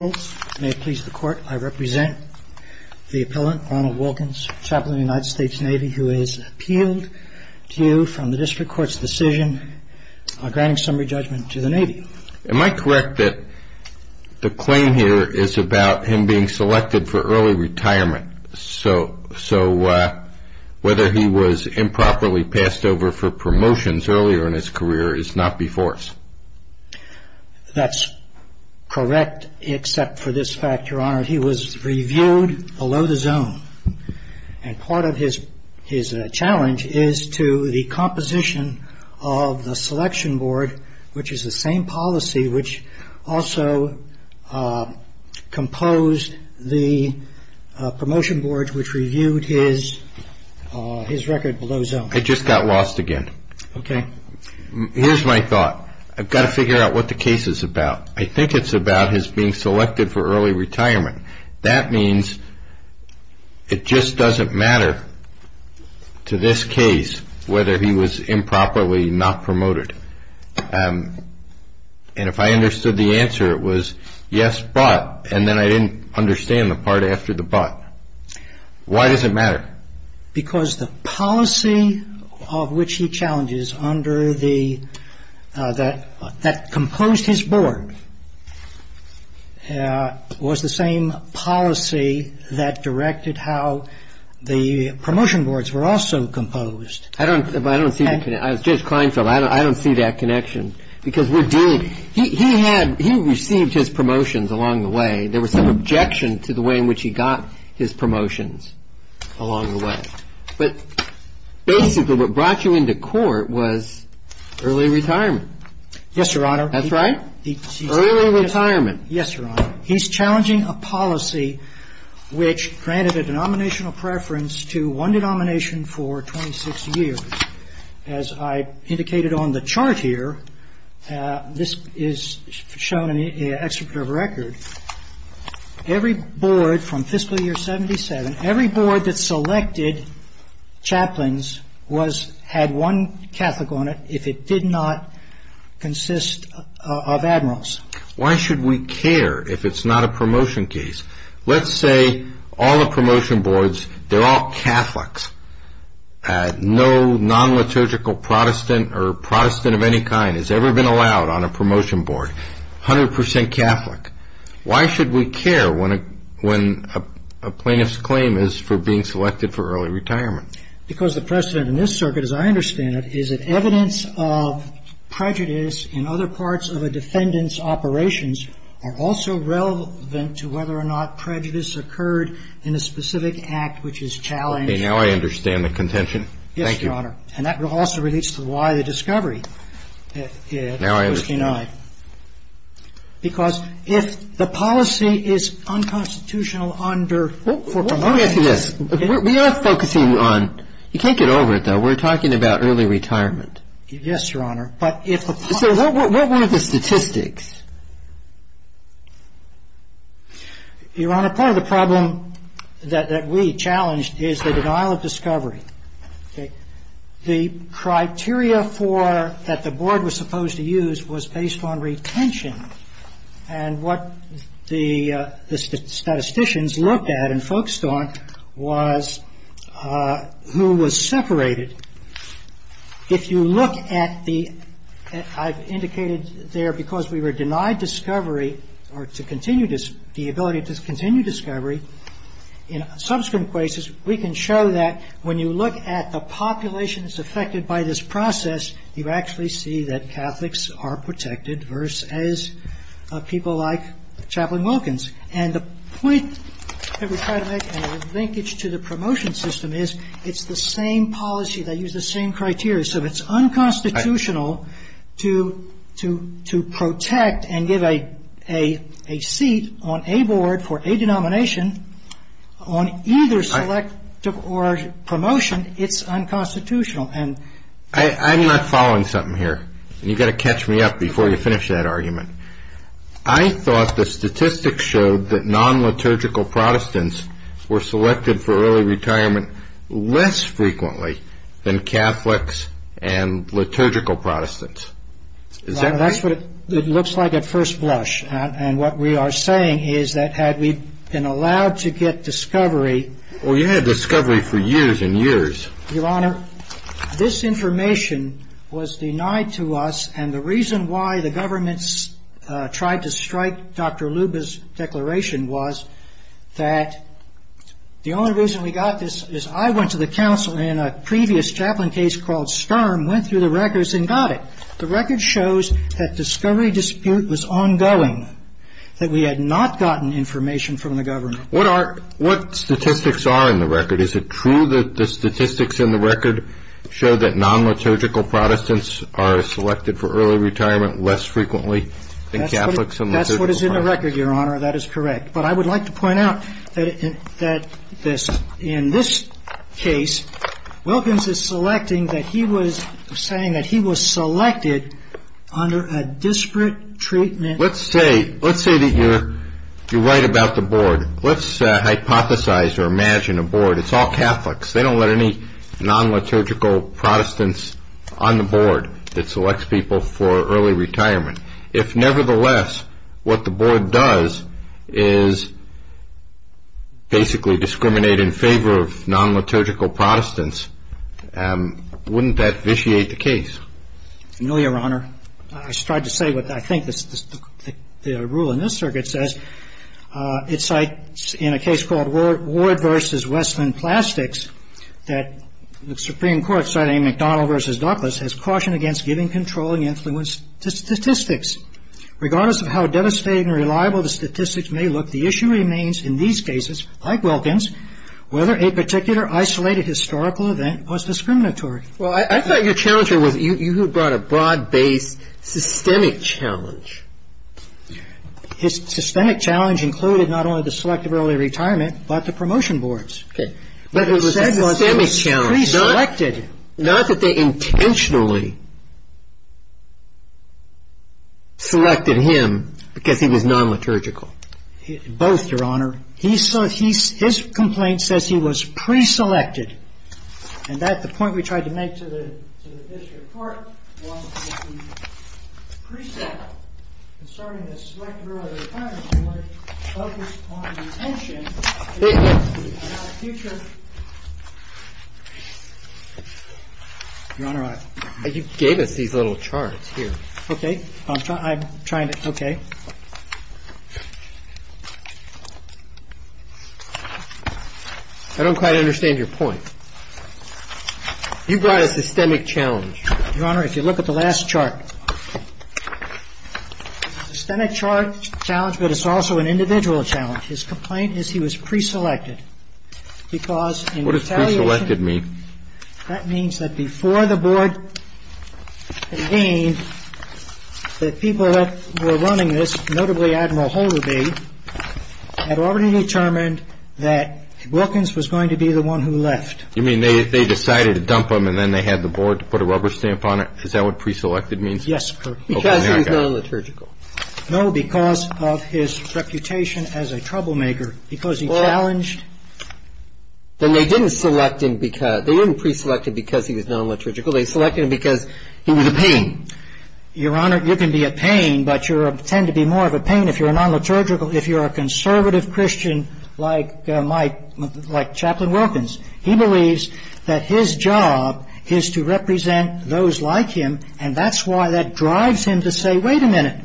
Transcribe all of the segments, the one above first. May it please the Court, I represent the appellant, Ronald Wilkins, Chaplain of the United States Navy, who is appealed to you from the District Court's decision granting summary judgment to the Navy. Am I correct that the claim here is about him being selected for early retirement, so whether he was improperly passed over for promotions earlier in his career is not before us? That's correct, except for this fact, Your Honor. He was reviewed below the zone. And part of his challenge is to the composition of the selection board, which is the same policy which also composed the promotion board which reviewed his record below zone. I just got lost again. Okay. Here's my thought. I've got to figure out what the case is about. I think it's about his being selected for early retirement. That means it just doesn't matter to this case whether he was improperly not promoted. And if I understood the answer, it was yes, but, and then I didn't understand the part after the but. Why does it matter? Because the policy of which he challenges under the, that composed his board, was the same policy that directed how the promotion boards were also composed. I don't, I don't see, Judge Kleinfeld, I don't see that connection. Because we're dealing, he had, he received his promotions along the way. There was some objection to the way in which he got his promotions along the way. But basically what brought you into court was early retirement. Yes, Your Honor. That's right? Early retirement. Yes, Your Honor. He's challenging a policy which granted a denominational preference to one denomination for 26 years. As I indicated on the chart here, this is shown in the Executive Record, every board from fiscal year 77, every board that selected chaplains was, had one Catholic on it if it did not consist of admirals. Why should we care if it's not a promotion case? Let's say all the promotion boards, they're all Catholics. No non-liturgical Protestant or Protestant of any kind has ever been allowed on a promotion board. 100% Catholic. Why should we care when a plaintiff's claim is for being selected for early retirement? Because the precedent in this circuit, as I understand it, is that evidence of prejudice in other parts of a defendant's operations are also relevant to whether or not prejudice occurred in a specific act which is challenged. Now I understand the contention. Yes, Your Honor. And that also relates to why the discovery at 59. Now I understand. Because if the policy is unconstitutional under for promotion. Let me ask you this. We are focusing on, you can't get over it, though. We're talking about early retirement. Yes, Your Honor. But if the policy. So what were the statistics? Your Honor, part of the problem that we challenged is the denial of discovery. Okay. The criteria for that the board was supposed to use was based on retention. And what the statisticians looked at and focused on was who was separated. If you look at the, I've indicated there because we were dealing with this case, the ability to continue discovery in subsequent cases, we can show that when you look at the population that's affected by this process, you actually see that Catholics are protected versus people like Chaplain Wilkins. And the point that we try to make, and the linkage to the promotion system, is it's the same policy. They use the same criteria. So it's unconstitutional to protect and give a seat on a board for a denomination on either selective or promotion. It's unconstitutional. I'm not following something here. You've got to catch me up before you finish that argument. I thought the statistics showed that non-liturgical Protestants were selected for early retirement less frequently than Catholics and liturgical Protestants. Is that right? That's what it looks like at first blush. And what we are saying is that had we been allowed to get discovery. Well, you had discovery for years and years. Your Honor, this information was denied to us, and the reason why the government tried to strike Dr. Luba's declaration was that the only reason we got this is I went to the council in a previous chaplain case called Skerm, went through the records, and got it. The record shows that discovery dispute was ongoing, that we had not gotten information from the government. What statistics are in the record? Is it true that the statistics in the record show that non-liturgical Protestants are selected for early retirement less frequently than Catholics and liturgical Protestants? That's what is in the record, Your Honor. That is correct. But I would like to point out that in this case, Wilkins is saying that he was selected under a disparate treatment. Let's say that you write about the board. Let's hypothesize or imagine a board. It's all Catholics. They don't let any non-liturgical Protestants on the board that selects people for early retirement. If, nevertheless, what the board does is basically discriminate in favor of non-liturgical Protestants, wouldn't that vitiate the case? No, Your Honor. I strive to say what I think the rule in this circuit says. It cites in a case called Ward v. Westland Plastics that the Supreme Court, citing McDonnell v. Douglas, has cautioned against giving controlling influence to statistics. Regardless of how devastating or reliable the statistics may look, the issue remains in these cases, like Wilkins, whether a particular isolated historical event was discriminatory. Well, I thought your challenge here was you brought a broad-based systemic challenge. His systemic challenge included not only the selectability of retirement, but the promotion boards. Okay. But it was a systemic challenge, not that they intentionally selected him because he was non-liturgical. Both, Your Honor. His complaint says he was pre-selected. And that's the point we tried to make to the district court, was that the preset concerning the selectability of retirement board focused on retention. Your Honor, you gave us these little charts here. Okay. I'm trying to. Okay. I don't quite understand your point. You brought a systemic challenge. Your Honor, if you look at the last chart, systemic challenge, but it's also an individual challenge. His complaint is he was pre-selected because in retaliation. What does pre-selected mean? That means that before the board convened, the people that were running this, notably Admiral Holderby, had already determined that Wilkins was going to be the one who left. You mean they decided to dump him and then they had the board to put a rubber stamp on it? Is that what pre-selected means? Yes, Your Honor. Because he was non-liturgical. No, because of his reputation as a troublemaker, because he challenged. Then they didn't pre-select him because he was non-liturgical. They selected him because he was a pain. Your Honor, you can be a pain, but you tend to be more of a pain if you're a non-liturgical, if you're a conservative Christian like Chaplain Wilkins. He believes that his job is to represent those like him, and that's why that drives him to say, wait a minute.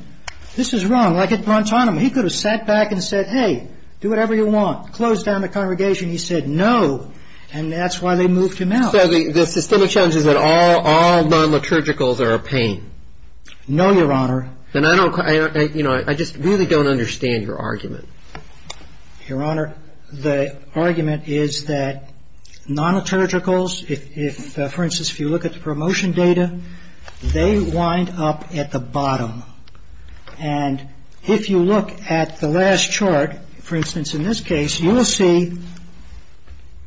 This is wrong. Well, I could have brunt on him. He could have sat back and said, hey, do whatever you want. Closed down the congregation. He said no, and that's why they moved him out. So the systemic challenge is that all non-liturgicals are a pain? No, Your Honor. Then I don't, you know, I just really don't understand your argument. Your Honor, the argument is that non-liturgicals, if, for instance, if you look at the promotion data, they wind up at the bottom. And if you look at the last chart, for instance, in this case, you will see.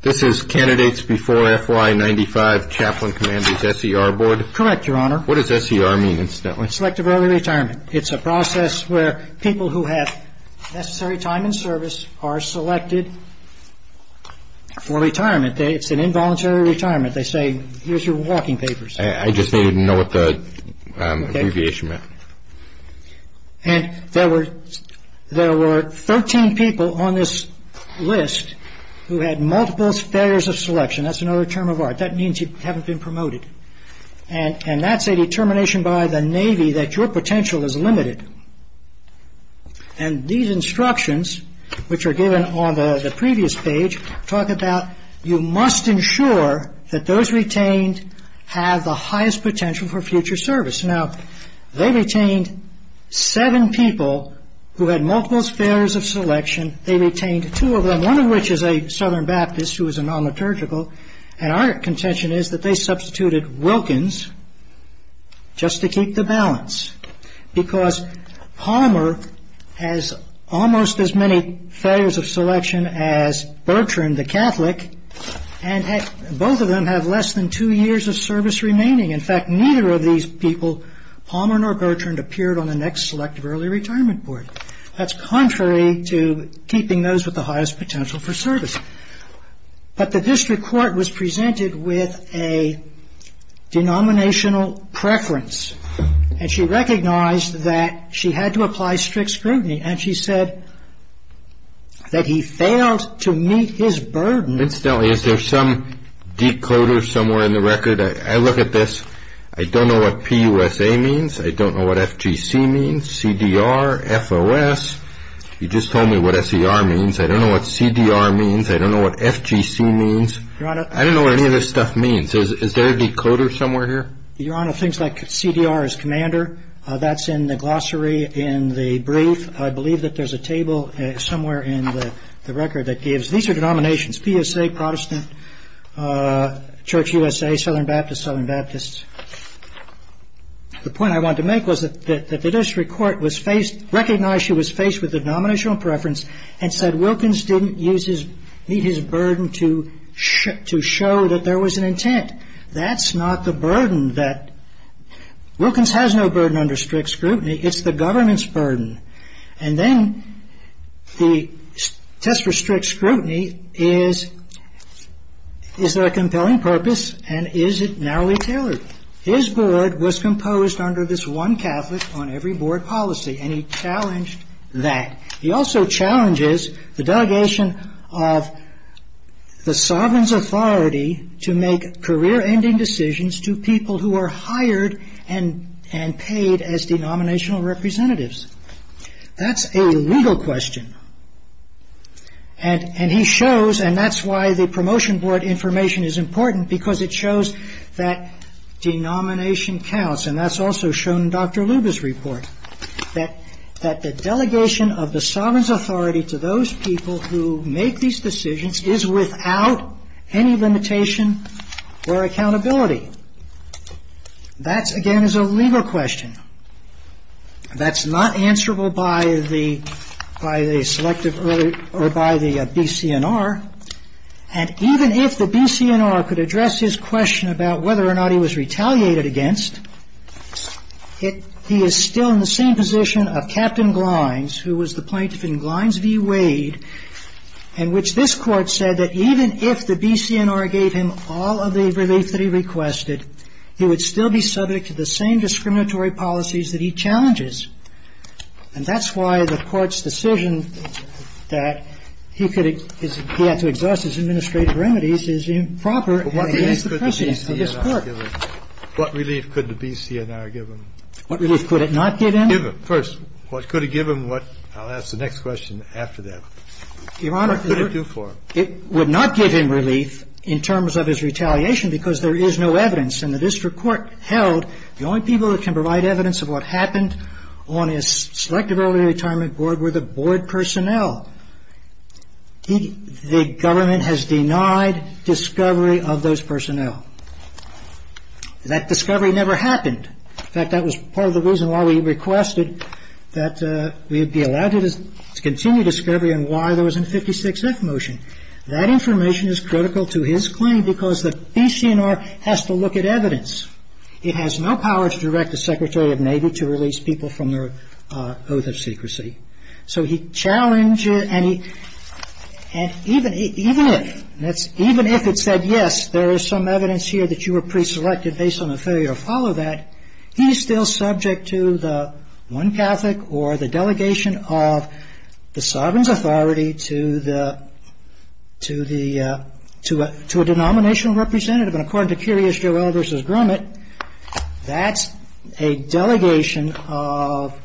This is candidates before FY95, Chaplain Commander's SER Board? Correct, Your Honor. What does SER mean, incidentally? Selective Early Retirement. It's a process where people who have necessary time in service are selected for retirement. It's an involuntary retirement. They say, here's your walking papers. I just needed to know what the abbreviation meant. And there were 13 people on this list who had multiple failures of selection. That's another term of art. That means you haven't been promoted. And that's a determination by the Navy that your potential is limited. And these instructions, which are given on the previous page, talk about you must ensure that those retained have the highest potential for future service. Now, they retained seven people who had multiple failures of selection. They retained two of them, one of which is a Southern Baptist who was a non-liturgical. And our contention is that they substituted Wilkins just to keep the balance. Because Palmer has almost as many failures of selection as Bertrand, the Catholic, and both of them have less than two years of service remaining. In fact, neither of these people, Palmer nor Bertrand, appeared on the next Selective Early Retirement Board. That's contrary to keeping those with the highest potential for service. But the district court was presented with a denominational preference. And she recognized that she had to apply strict scrutiny. And she said that he failed to meet his burden. Incidentally, is there some decoder somewhere in the record? I look at this. I don't know what PUSA means. I don't know what FGC means, CDR, FOS. You just told me what SER means. I don't know what CDR means. I don't know what FGC means. Your Honor. I don't know what any of this stuff means. Is there a decoder somewhere here? Your Honor, things like CDR is commander. That's in the glossary in the brief. I believe that there's a table somewhere in the record that gives. These are denominations, PUSA, Protestant, Church USA, Southern Baptist, Southern Baptist. The point I wanted to make was that the district court was faced, recognized she was faced with a denominational preference, and said Wilkins didn't meet his burden to show that there was an intent. That's not the burden that, Wilkins has no burden under strict scrutiny. It's the government's burden. And then the test for strict scrutiny is, is there a compelling purpose, and is it narrowly tailored? His board was composed under this one Catholic on every board policy, and he challenged that. He also challenges the delegation of the sovereign's authority to make career-ending decisions to people who are hired and paid as denominational representatives. That's a legal question. And he shows, and that's why the promotion board information is important, because it shows that denomination counts, and that's also shown in Dr. Luba's report. That the delegation of the sovereign's authority to those people who make these decisions is without any limitation or accountability. That, again, is a legal question. That's not answerable by the BCNR. And even if the BCNR could address his question about whether or not he was retaliated against, he is still in the same position of Captain Glynes, who was the plaintiff in Glynes v. Wade, in which this Court said that even if the BCNR gave him all of the relief that he requested, he would still be subject to the same discriminatory policies that he challenges. And that's why the Court's decision that he could, he had to exhaust his administrative remedies is improper, and it is the precedent of this Court. Kennedy. What relief could the BCNR give him? What relief could it not give him? Give him. First, what could it give him? I'll ask the next question after that. Your Honor. What could it do for him? It would not give him relief in terms of his retaliation because there is no evidence. And the district court held the only people that can provide evidence of what happened on his selective early retirement board were the board personnel. The government has denied discovery of those personnel. That discovery never happened. In fact, that was part of the reason why we requested that we be allowed to continue discovery on why there was a 56-F motion. That information is critical to his claim because the BCNR has to look at evidence. It has no power to direct the Secretary of Navy to release people from their oath of secrecy. So he challenged it, and even if it said, yes, there is some evidence here that you were preselected based on a failure to follow that, he's still subject to the one Catholic or the delegation of the sovereign's authority to the to a denominational representative. And according to Curious Joe L. v. Grumet, that's a delegation of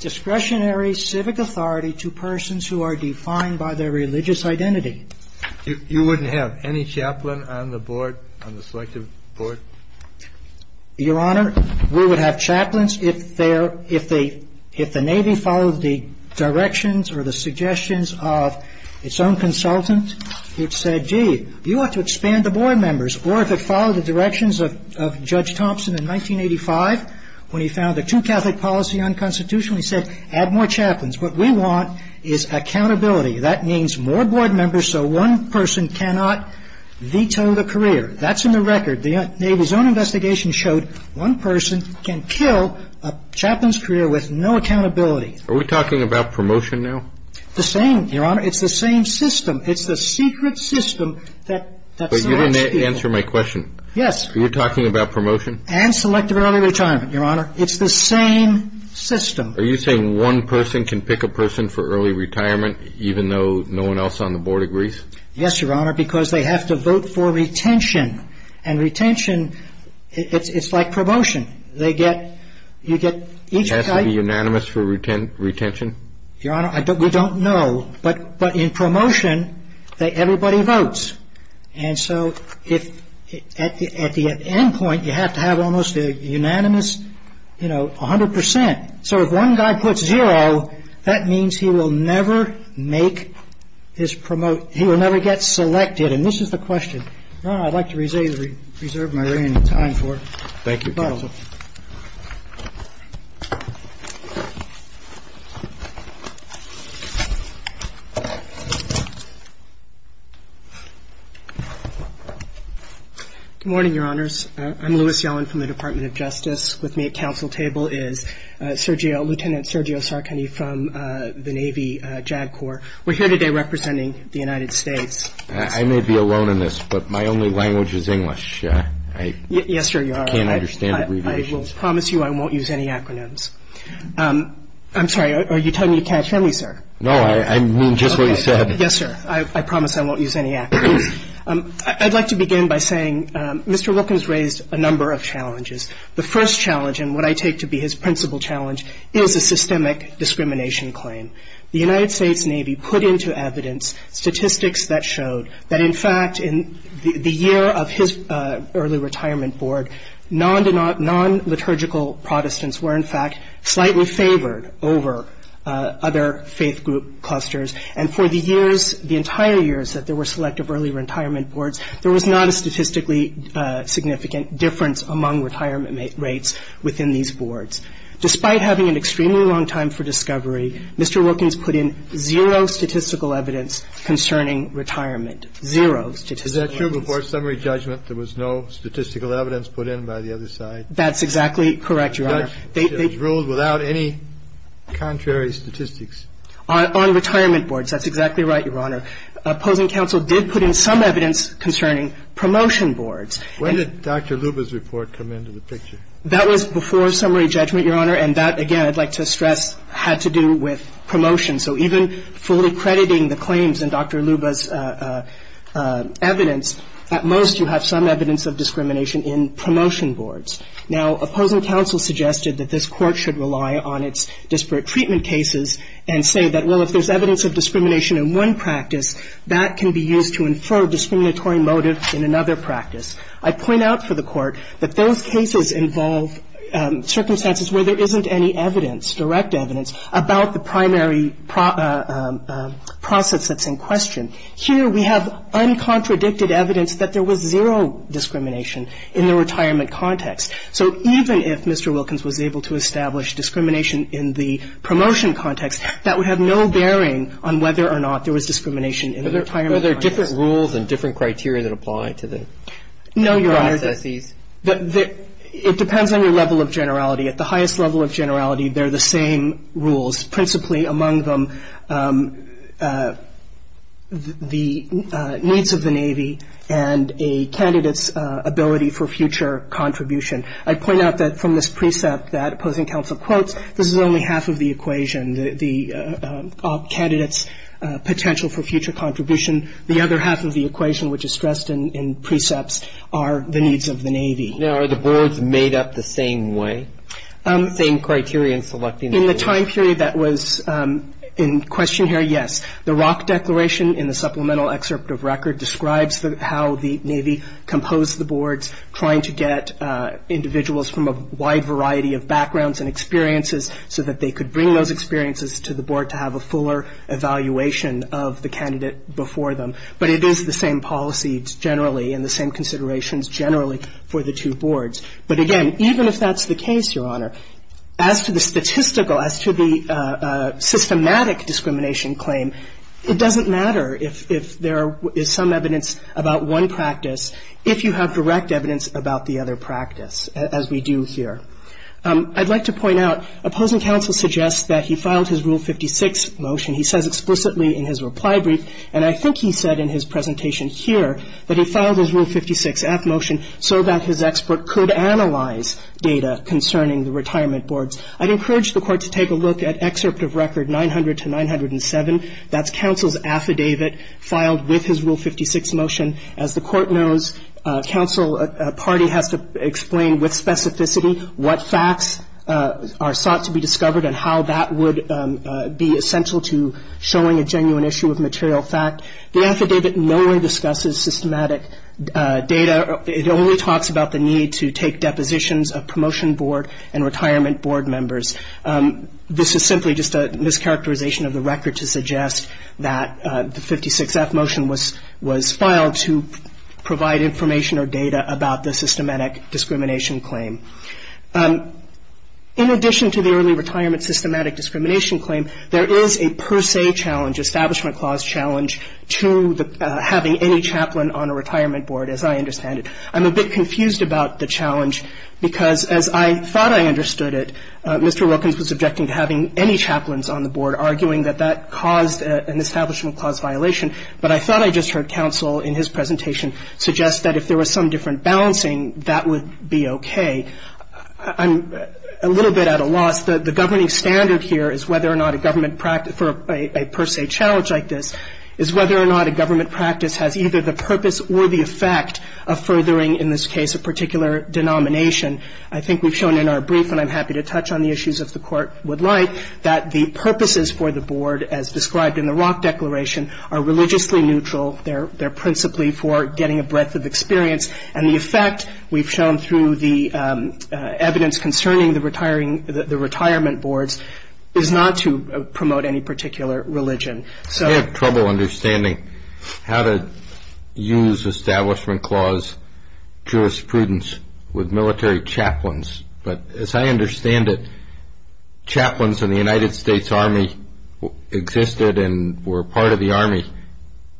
discretionary civic authority to persons who are defined by their religious identity. You wouldn't have any chaplain on the board, on the selective board? Your Honor, we would have chaplains if they're – if the Navy followed the directions or the suggestions of its own consultant. It said, gee, you ought to expand the board members, or if it followed the directions of Judge Thompson in 1985 when he found the two Catholic policy unconstitutional, he said, add more chaplains. What we want is accountability. That means more board members so one person cannot veto the career. That's in the record. The Navy's own investigation showed one person can kill a chaplain's career with no accountability. Are we talking about promotion now? The same, Your Honor. It's the same system. It's the secret system that so much people – But you didn't answer my question. Yes. Are you talking about promotion? And selective early retirement, Your Honor. It's the same system. Are you saying one person can pick a person for early retirement, even though no one else on the board agrees? Yes, Your Honor, because they have to vote for retention. And retention, it's like promotion. They get – you get each – Does it have to be unanimous for retention? Your Honor, we don't know. But in promotion, everybody votes. And so if – at the end point, you have to have almost a unanimous, you know, 100%. So if one guy puts zero, that means he will never make his – he will never get selected. And this is the question. Your Honor, I'd like to reserve my time for it. Thank you. Thank you. Good morning, Your Honors. I'm Louis Yellen from the Department of Justice. With me at council table is Lieutenant Sergio Sarcone from the Navy JAG Corps. We're here today representing the United States. I may be alone in this, but my only language is English. Yes, sir, you are. I can't understand it. I will promise you I won't use any acronyms. I'm sorry. Are you telling me you can't hear me, sir? No, I mean just what you said. Yes, sir. I promise I won't use any acronyms. I'd like to begin by saying Mr. Wilkins raised a number of challenges. The first challenge, and what I take to be his principal challenge, is a systemic discrimination claim. The United States Navy put into evidence statistics that showed that, in fact, in the year of his early retirement board, non-liturgical Protestants were, in fact, slightly favored over other faith group clusters. And for the years, the entire years that there were selective early retirement boards, there was not a statistically significant difference among retirement rates within these boards. Despite having an extremely long time for discovery, Mr. Wilkins put in zero statistical evidence concerning retirement, zero statistical evidence. Is that true? Before summary judgment, there was no statistical evidence put in by the other side? That's exactly correct, Your Honor. It was ruled without any contrary statistics. On retirement boards. That's exactly right, Your Honor. Opposing counsel did put in some evidence concerning promotion boards. When did Dr. Luba's report come into the picture? That was before summary judgment, Your Honor, and that, again, I'd like to stress, had to do with promotion. So even fully crediting the claims in Dr. Luba's evidence, at most you have some evidence of discrimination in promotion boards. Now, opposing counsel suggested that this Court should rely on its disparate treatment cases and say that, well, if there's evidence of discrimination in one practice, that can be used to infer discriminatory motives in another practice. I point out for the Court that those cases involve circumstances where there isn't any evidence, direct evidence, about the primary process that's in question. Here we have uncontradicted evidence that there was zero discrimination in the retirement context. So even if Mr. Wilkins was able to establish discrimination in the promotion context, that would have no bearing on whether or not there was discrimination in the retirement context. Are there different rules and different criteria that apply to the processes? No, Your Honor. It depends on your level of generality. At the highest level of generality, they're the same rules, principally among them the needs of the Navy and a candidate's ability for future contribution. I point out that from this precept that opposing counsel quotes, this is only half of the equation, the candidate's potential for future contribution. The other half of the equation, which is stressed in precepts, are the needs of the Navy. Now, are the boards made up the same way, the same criteria in selecting the boards? In the time period that was in question here, yes. The Rock Declaration in the supplemental excerpt of record describes how the Navy composed the boards, trying to get individuals from a wide variety of backgrounds and experiences so that they could bring those experiences to the board to have a fuller evaluation of the candidate before them. But it is the same policy generally and the same considerations generally for the two boards. But, again, even if that's the case, Your Honor, as to the statistical, as to the systematic discrimination claim, it doesn't matter if there is some evidence about one practice if you have direct evidence about the other practice, as we do here. I'd like to point out opposing counsel suggests that he filed his Rule 56 motion. He says explicitly in his reply brief, and I think he said in his presentation here, that he filed his Rule 56-F motion so that his expert could analyze data concerning the retirement boards. I'd encourage the Court to take a look at excerpt of record 900-907. That's counsel's affidavit filed with his Rule 56 motion. As the Court knows, counsel party has to explain with specificity what facts are sought to be discovered and how that would be essential to showing a genuine issue of material fact. The affidavit no longer discusses systematic data. It only talks about the need to take depositions of promotion board and retirement board members. This is simply just a mischaracterization of the record to suggest that the 56-F motion was filed to provide information or data about the systematic discrimination claim. In addition to the early retirement systematic discrimination claim, there is a per se challenge, establishment clause challenge, to having any chaplain on a retirement board, as I understand it. I'm a bit confused about the challenge because as I thought I understood it, Mr. Wilkins was objecting to having any chaplains on the board, arguing that that caused an establishment clause violation. But I thought I just heard counsel in his presentation suggest that if there was some different balancing, that would be okay. I'm a little bit at a loss. The governing standard here is whether or not a government practice for a per se challenge like this is whether or not a government practice has either the purpose or the effect of furthering in this case a particular denomination. I think we've shown in our brief, and I'm happy to touch on the issues if the Court would like, that the purposes for the board, as described in the Rock Declaration, are religiously neutral. They're principally for getting a breadth of experience. And the effect we've shown through the evidence concerning the retirement boards is not to promote any particular religion. I have trouble understanding how to use establishment clause jurisprudence with military chaplains. But as I understand it, chaplains in the United States Army existed and were part of the Army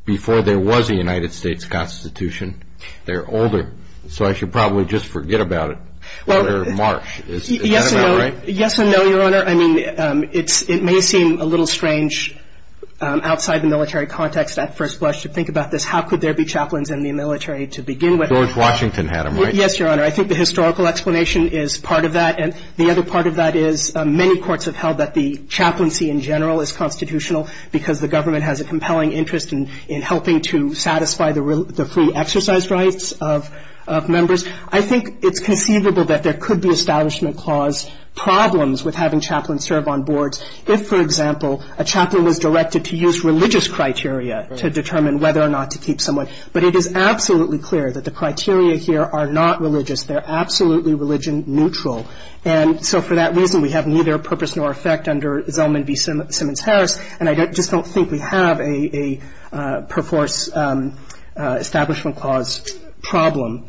before there was a United States Constitution. They're older. So I should probably just forget about it for March. Is that about right? Yes and no, Your Honor. I mean, it may seem a little strange outside the military context at first blush to think about this. How could there be chaplains in the military to begin with? George Washington had them, right? Yes, Your Honor. I think the historical explanation is part of that. And the other part of that is many courts have held that the chaplaincy in general is constitutional because the government has a compelling interest in helping to satisfy the free exercise rights of members. I think it's conceivable that there could be establishment clause problems with having chaplains serve on boards if, for example, a chaplain was directed to use religious criteria to determine whether or not to keep someone. But it is absolutely clear that the criteria here are not religious. They're absolutely religion neutral. And so for that reason, we have neither purpose nor effect under Zellman v. Simmons-Harris. And I just don't think we have a per force establishment clause problem.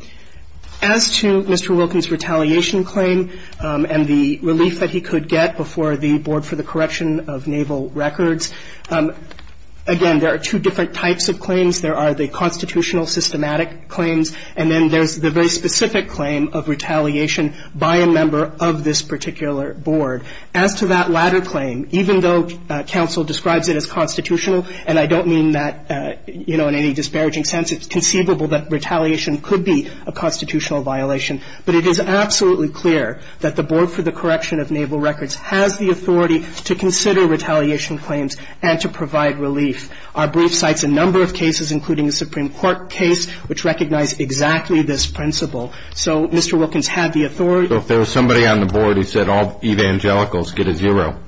As to Mr. Wilkins' retaliation claim and the relief that he could get before the Board for the Correction of Naval Records, again, there are two different types of claims. There are the constitutional systematic claims, and then there's the very specific claim of retaliation by a member of this particular board. As to that latter claim, even though counsel describes it as constitutional, and I don't mean that, you know, in any disparaging sense, it's conceivable that retaliation could be a constitutional violation. But it is absolutely clear that the Board for the Correction of Naval Records has the authority to consider retaliation claims and to provide relief. Our brief cites a number of cases, including a Supreme Court case, which recognize exactly this principle. So Mr. Wilkins had the authority. So if there was somebody on the board who said all evangelicals get a zero,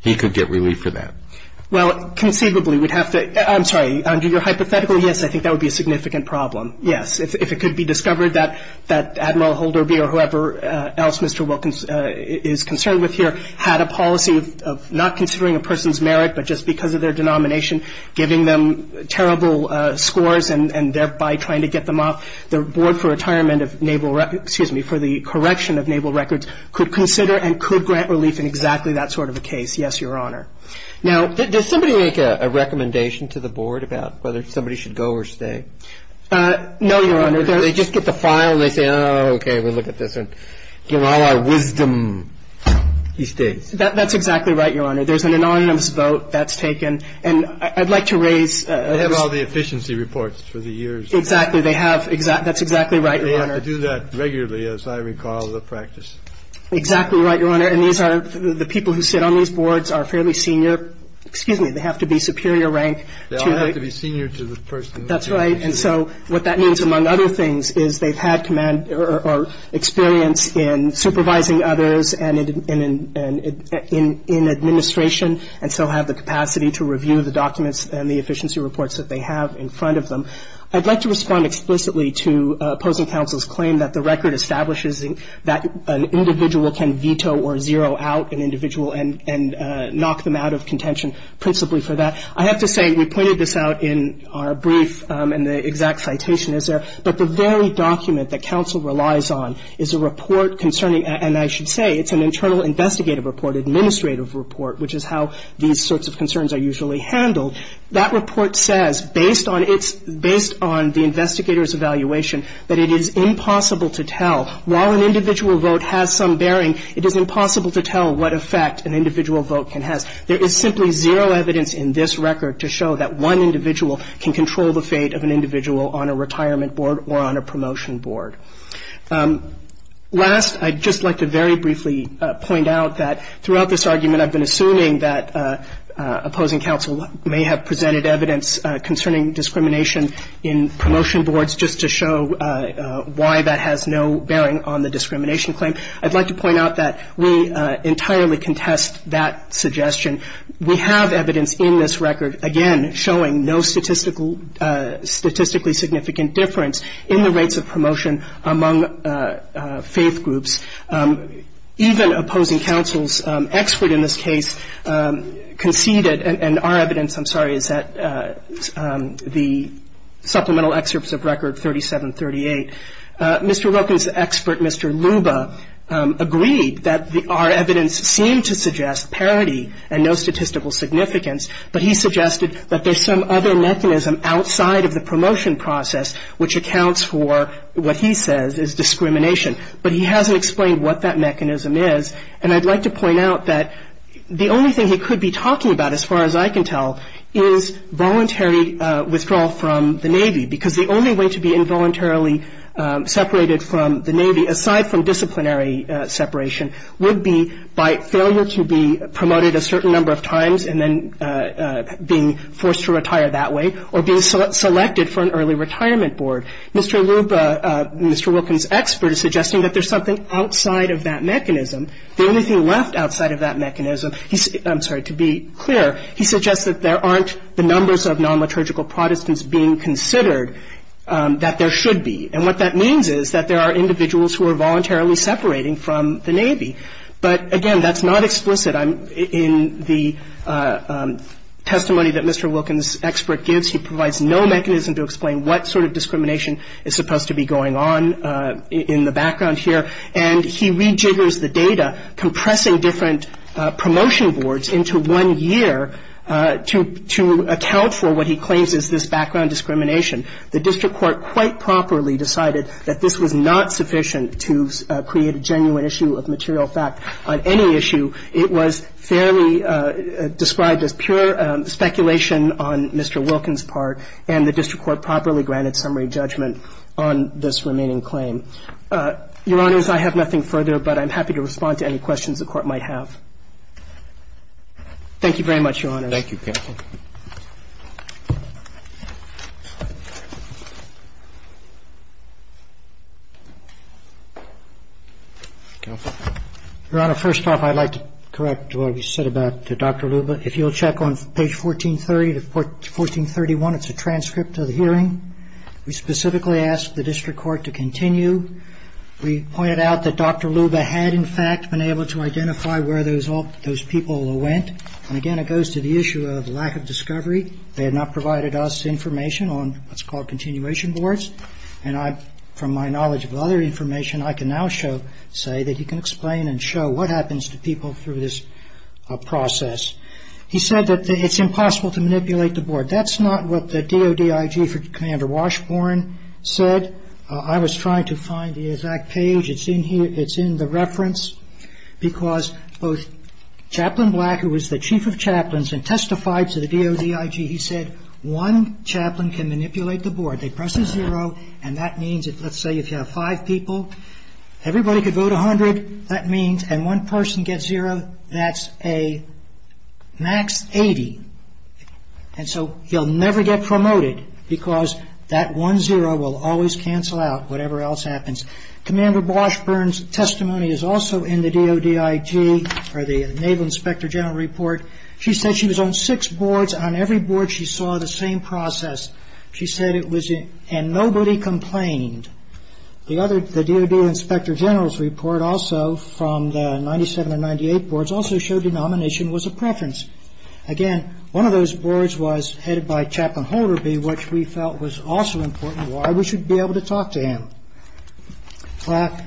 he could get relief for that? Well, conceivably, we'd have to – I'm sorry, under your hypothetical, yes, I think that would be a significant problem, yes. If it could be discovered that Admiral Holderby or whoever else Mr. Wilkins is concerned with here had a policy of not considering a person's merit, but just because of their denomination, giving them terrible scores and thereby trying to get them off. The Board for Retirement of Naval – excuse me, for the Correction of Naval Records could consider and could grant relief in exactly that sort of a case, yes, Your Honor. Now, does somebody make a recommendation to the board about whether somebody should go or stay? No, Your Honor. They just get the file and they say, oh, okay, we'll look at this one. Give all our wisdom, he stays. That's exactly right, Your Honor. There's an anonymous vote that's taken. And I'd like to raise – They have all the efficiency reports for the years. Exactly. They have – that's exactly right, Your Honor. They have to do that regularly, as I recall the practice. Exactly right, Your Honor. And these are – the people who sit on these boards are fairly senior – excuse me, they have to be superior rank to the – They all have to be senior to the person who – That's right. And so what that means, among other things, is they've had command or experience in supervising others and in administration, and so have the capacity to review the documents and the efficiency reports that they have in front of them. I'd like to respond explicitly to opposing counsel's claim that the record establishes that an individual can veto or zero out an individual and knock them out of contention principally for that. I have to say, we pointed this out in our brief and the exact citation is there, but the very document that counsel relies on is a report concerning – and I should say it's an internal investigative report, administrative report, which is how these sorts of concerns are usually handled. That report says, based on its – based on the investigator's evaluation, that it is impossible to tell. While an individual vote has some bearing, it is impossible to tell what effect an individual vote can have. There is simply zero evidence in this record to show that one individual can control the fate of an individual on a retirement board or on a promotion board. Last, I'd just like to very briefly point out that throughout this argument, I've been assuming that opposing counsel may have presented evidence concerning discrimination in promotion boards just to show why that has no bearing on the discrimination claim. I'd like to point out that we entirely contest that suggestion. We have evidence in this record, again, showing no statistically significant difference in the rates of promotion among faith groups. Even opposing counsel's expert in this case conceded – and our evidence, I'm sorry, is that the supplemental excerpts of Record 3738. Mr. Roken's expert, Mr. Luba, agreed that our evidence seemed to suggest parity and no statistical significance. But he suggested that there's some other mechanism outside of the promotion process which accounts for what he says is discrimination. But he hasn't explained what that mechanism is. And I'd like to point out that the only thing he could be talking about, as far as I can tell, is voluntary withdrawal from the Navy, because the only way to be involuntarily separated from the Navy, aside from disciplinary separation, would be by failure to be promoted a certain number of times and then being forced to retire that way or being selected for an early retirement board. Mr. Luba, Mr. Roken's expert, is suggesting that there's something outside of that mechanism. The only thing left outside of that mechanism – I'm sorry. To be clear, he suggests that there aren't the numbers of non-liturgical Protestants being considered that there should be. And what that means is that there are individuals who are voluntarily separating from the Navy. But, again, that's not explicit. In the testimony that Mr. Roken's expert gives, he provides no mechanism to explain what sort of discrimination is supposed to be going on in the background here. And he rejiggers the data, compressing different promotion boards into one year to account for what he claims is this background discrimination. The district court quite properly decided that this was not sufficient to create a genuine issue of material fact on any issue. It was fairly described as pure speculation on Mr. Roken's part, and the district court properly granted summary judgment on this remaining claim. Your Honors, I have nothing further, but I'm happy to respond to any questions the Court might have. Thank you very much, Your Honors. Thank you, counsel. Your Honor, first off, I'd like to correct what we said about Dr. Luba. If you'll check on page 1430 to 1431, it's a transcript of the hearing. We specifically asked the district court to continue. We pointed out that Dr. Luba had, in fact, been able to identify where those people went. And, again, it goes to the issue of lack of evidence. They had not provided us information on what's called continuation boards. And from my knowledge of other information, I can now say that he can explain and show what happens to people through this process. He said that it's impossible to manipulate the board. That's not what the DOD IG for Commander Washburn said. I was trying to find the exact page. It's in the reference, because both Chaplain Black, who was the chief of chaplains and testified to the DOD IG, he said one chaplain can manipulate the board. They press a zero, and that means, let's say, if you have five people, everybody could vote 100. That means, and one person gets zero, that's a max 80. And so you'll never get promoted, because that one zero will always cancel out, whatever else happens. Commander Washburn's testimony is also in the DOD IG, or the Naval Inspector General Report. She said she was on six boards. On every board, she saw the same process. She said it was and nobody complained. The DOD Inspector General's report also from the 97 and 98 boards also showed denomination was a preference. Again, one of those boards was headed by Chaplain Holderby, which we felt was also important why we should be able to talk to him. Black,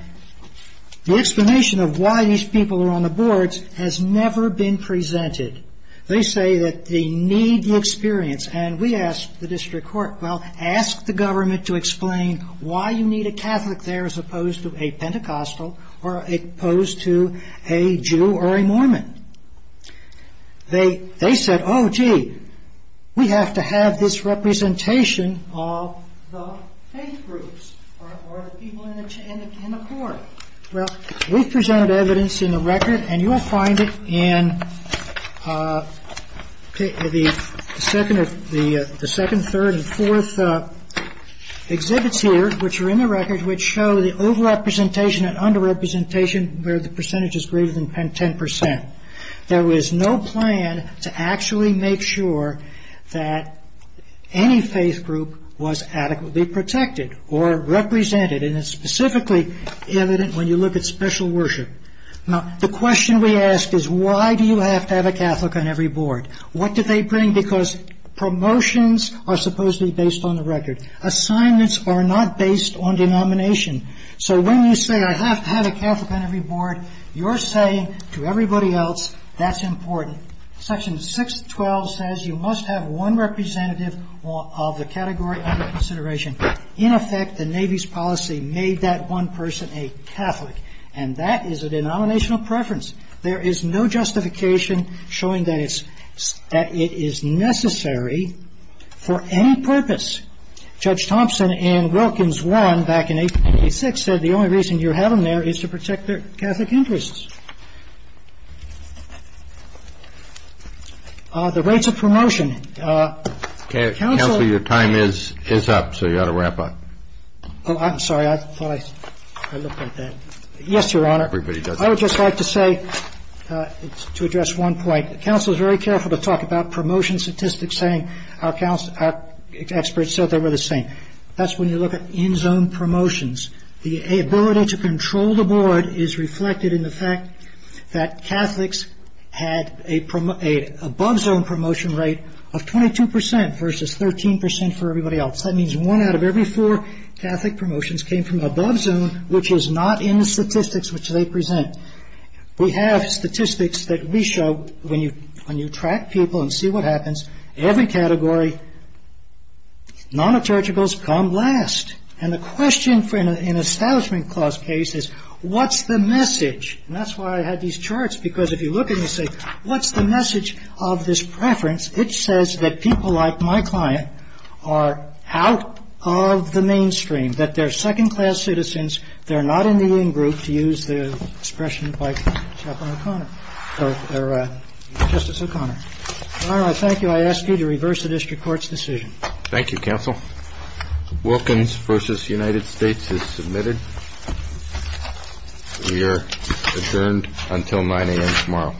the explanation of why these people are on the boards has never been presented. They say that they need the experience, and we asked the district court, well, ask the government to explain why you need a Catholic there as opposed to a Pentecostal or opposed to a Jew or a Mormon. They said, oh, gee, we have to have this representation of the faith groups or the people in the court. Well, we've presented evidence in the record, and you'll find it in the second, third, and fourth exhibits here, which are in the record, which show the over-representation and under-representation where the percentage is greater than 10%. There was no plan to actually make sure that any faith group was adequately protected or represented, and it's specifically evident when you look at special worship. Now, the question we ask is why do you have to have a Catholic on every board? What do they bring? Because promotions are supposedly based on the record. Assignments are not based on denomination. So when you say I have to have a Catholic on every board, you're saying to everybody else that's important. Section 612 says you must have one representative of the category under consideration. In effect, the Navy's policy made that one person a Catholic, and that is a denominational preference. There is no justification showing that it is necessary for any purpose. Well, the reason we have to have a Catholic on every board is to protect their Catholic interests. Judge Thompson in Wilkins 1 back in 1886 said the only reason you have them there is to protect their Catholic interests. The rates of promotion. Counselor, your time is up, so you ought to wrap up. Oh, I'm sorry. I thought I looked at that. Yes, Your Honor. Everybody does. I would just like to say to address one point. Counsel is very careful to talk about promotion statistics, saying our experts thought they were the same. That's when you look at in-zone promotions. The ability to control the board is reflected in the fact that Catholics had a above-zone promotion rate of 22 percent versus 13 percent for everybody else. That means one out of every four Catholic promotions came from above-zone, which is not in the statistics which they present. We have statistics that we show when you track people and see what happens. Every category, non-returgicals come last. And the question for an Establishment Clause case is, what's the message? And that's why I had these charts, because if you look and you say, what's the message of this preference? It says that people like my client are out of the mainstream, that they're second-class citizens. They're not in the in-group, to use the expression by Chaplain O'Connor or Justice O'Connor. Your Honor, I thank you. I ask you to reverse the district court's decision. Thank you, counsel. Wilkins v. United States is submitted. We are adjourned until 9 a.m. tomorrow. Thank you.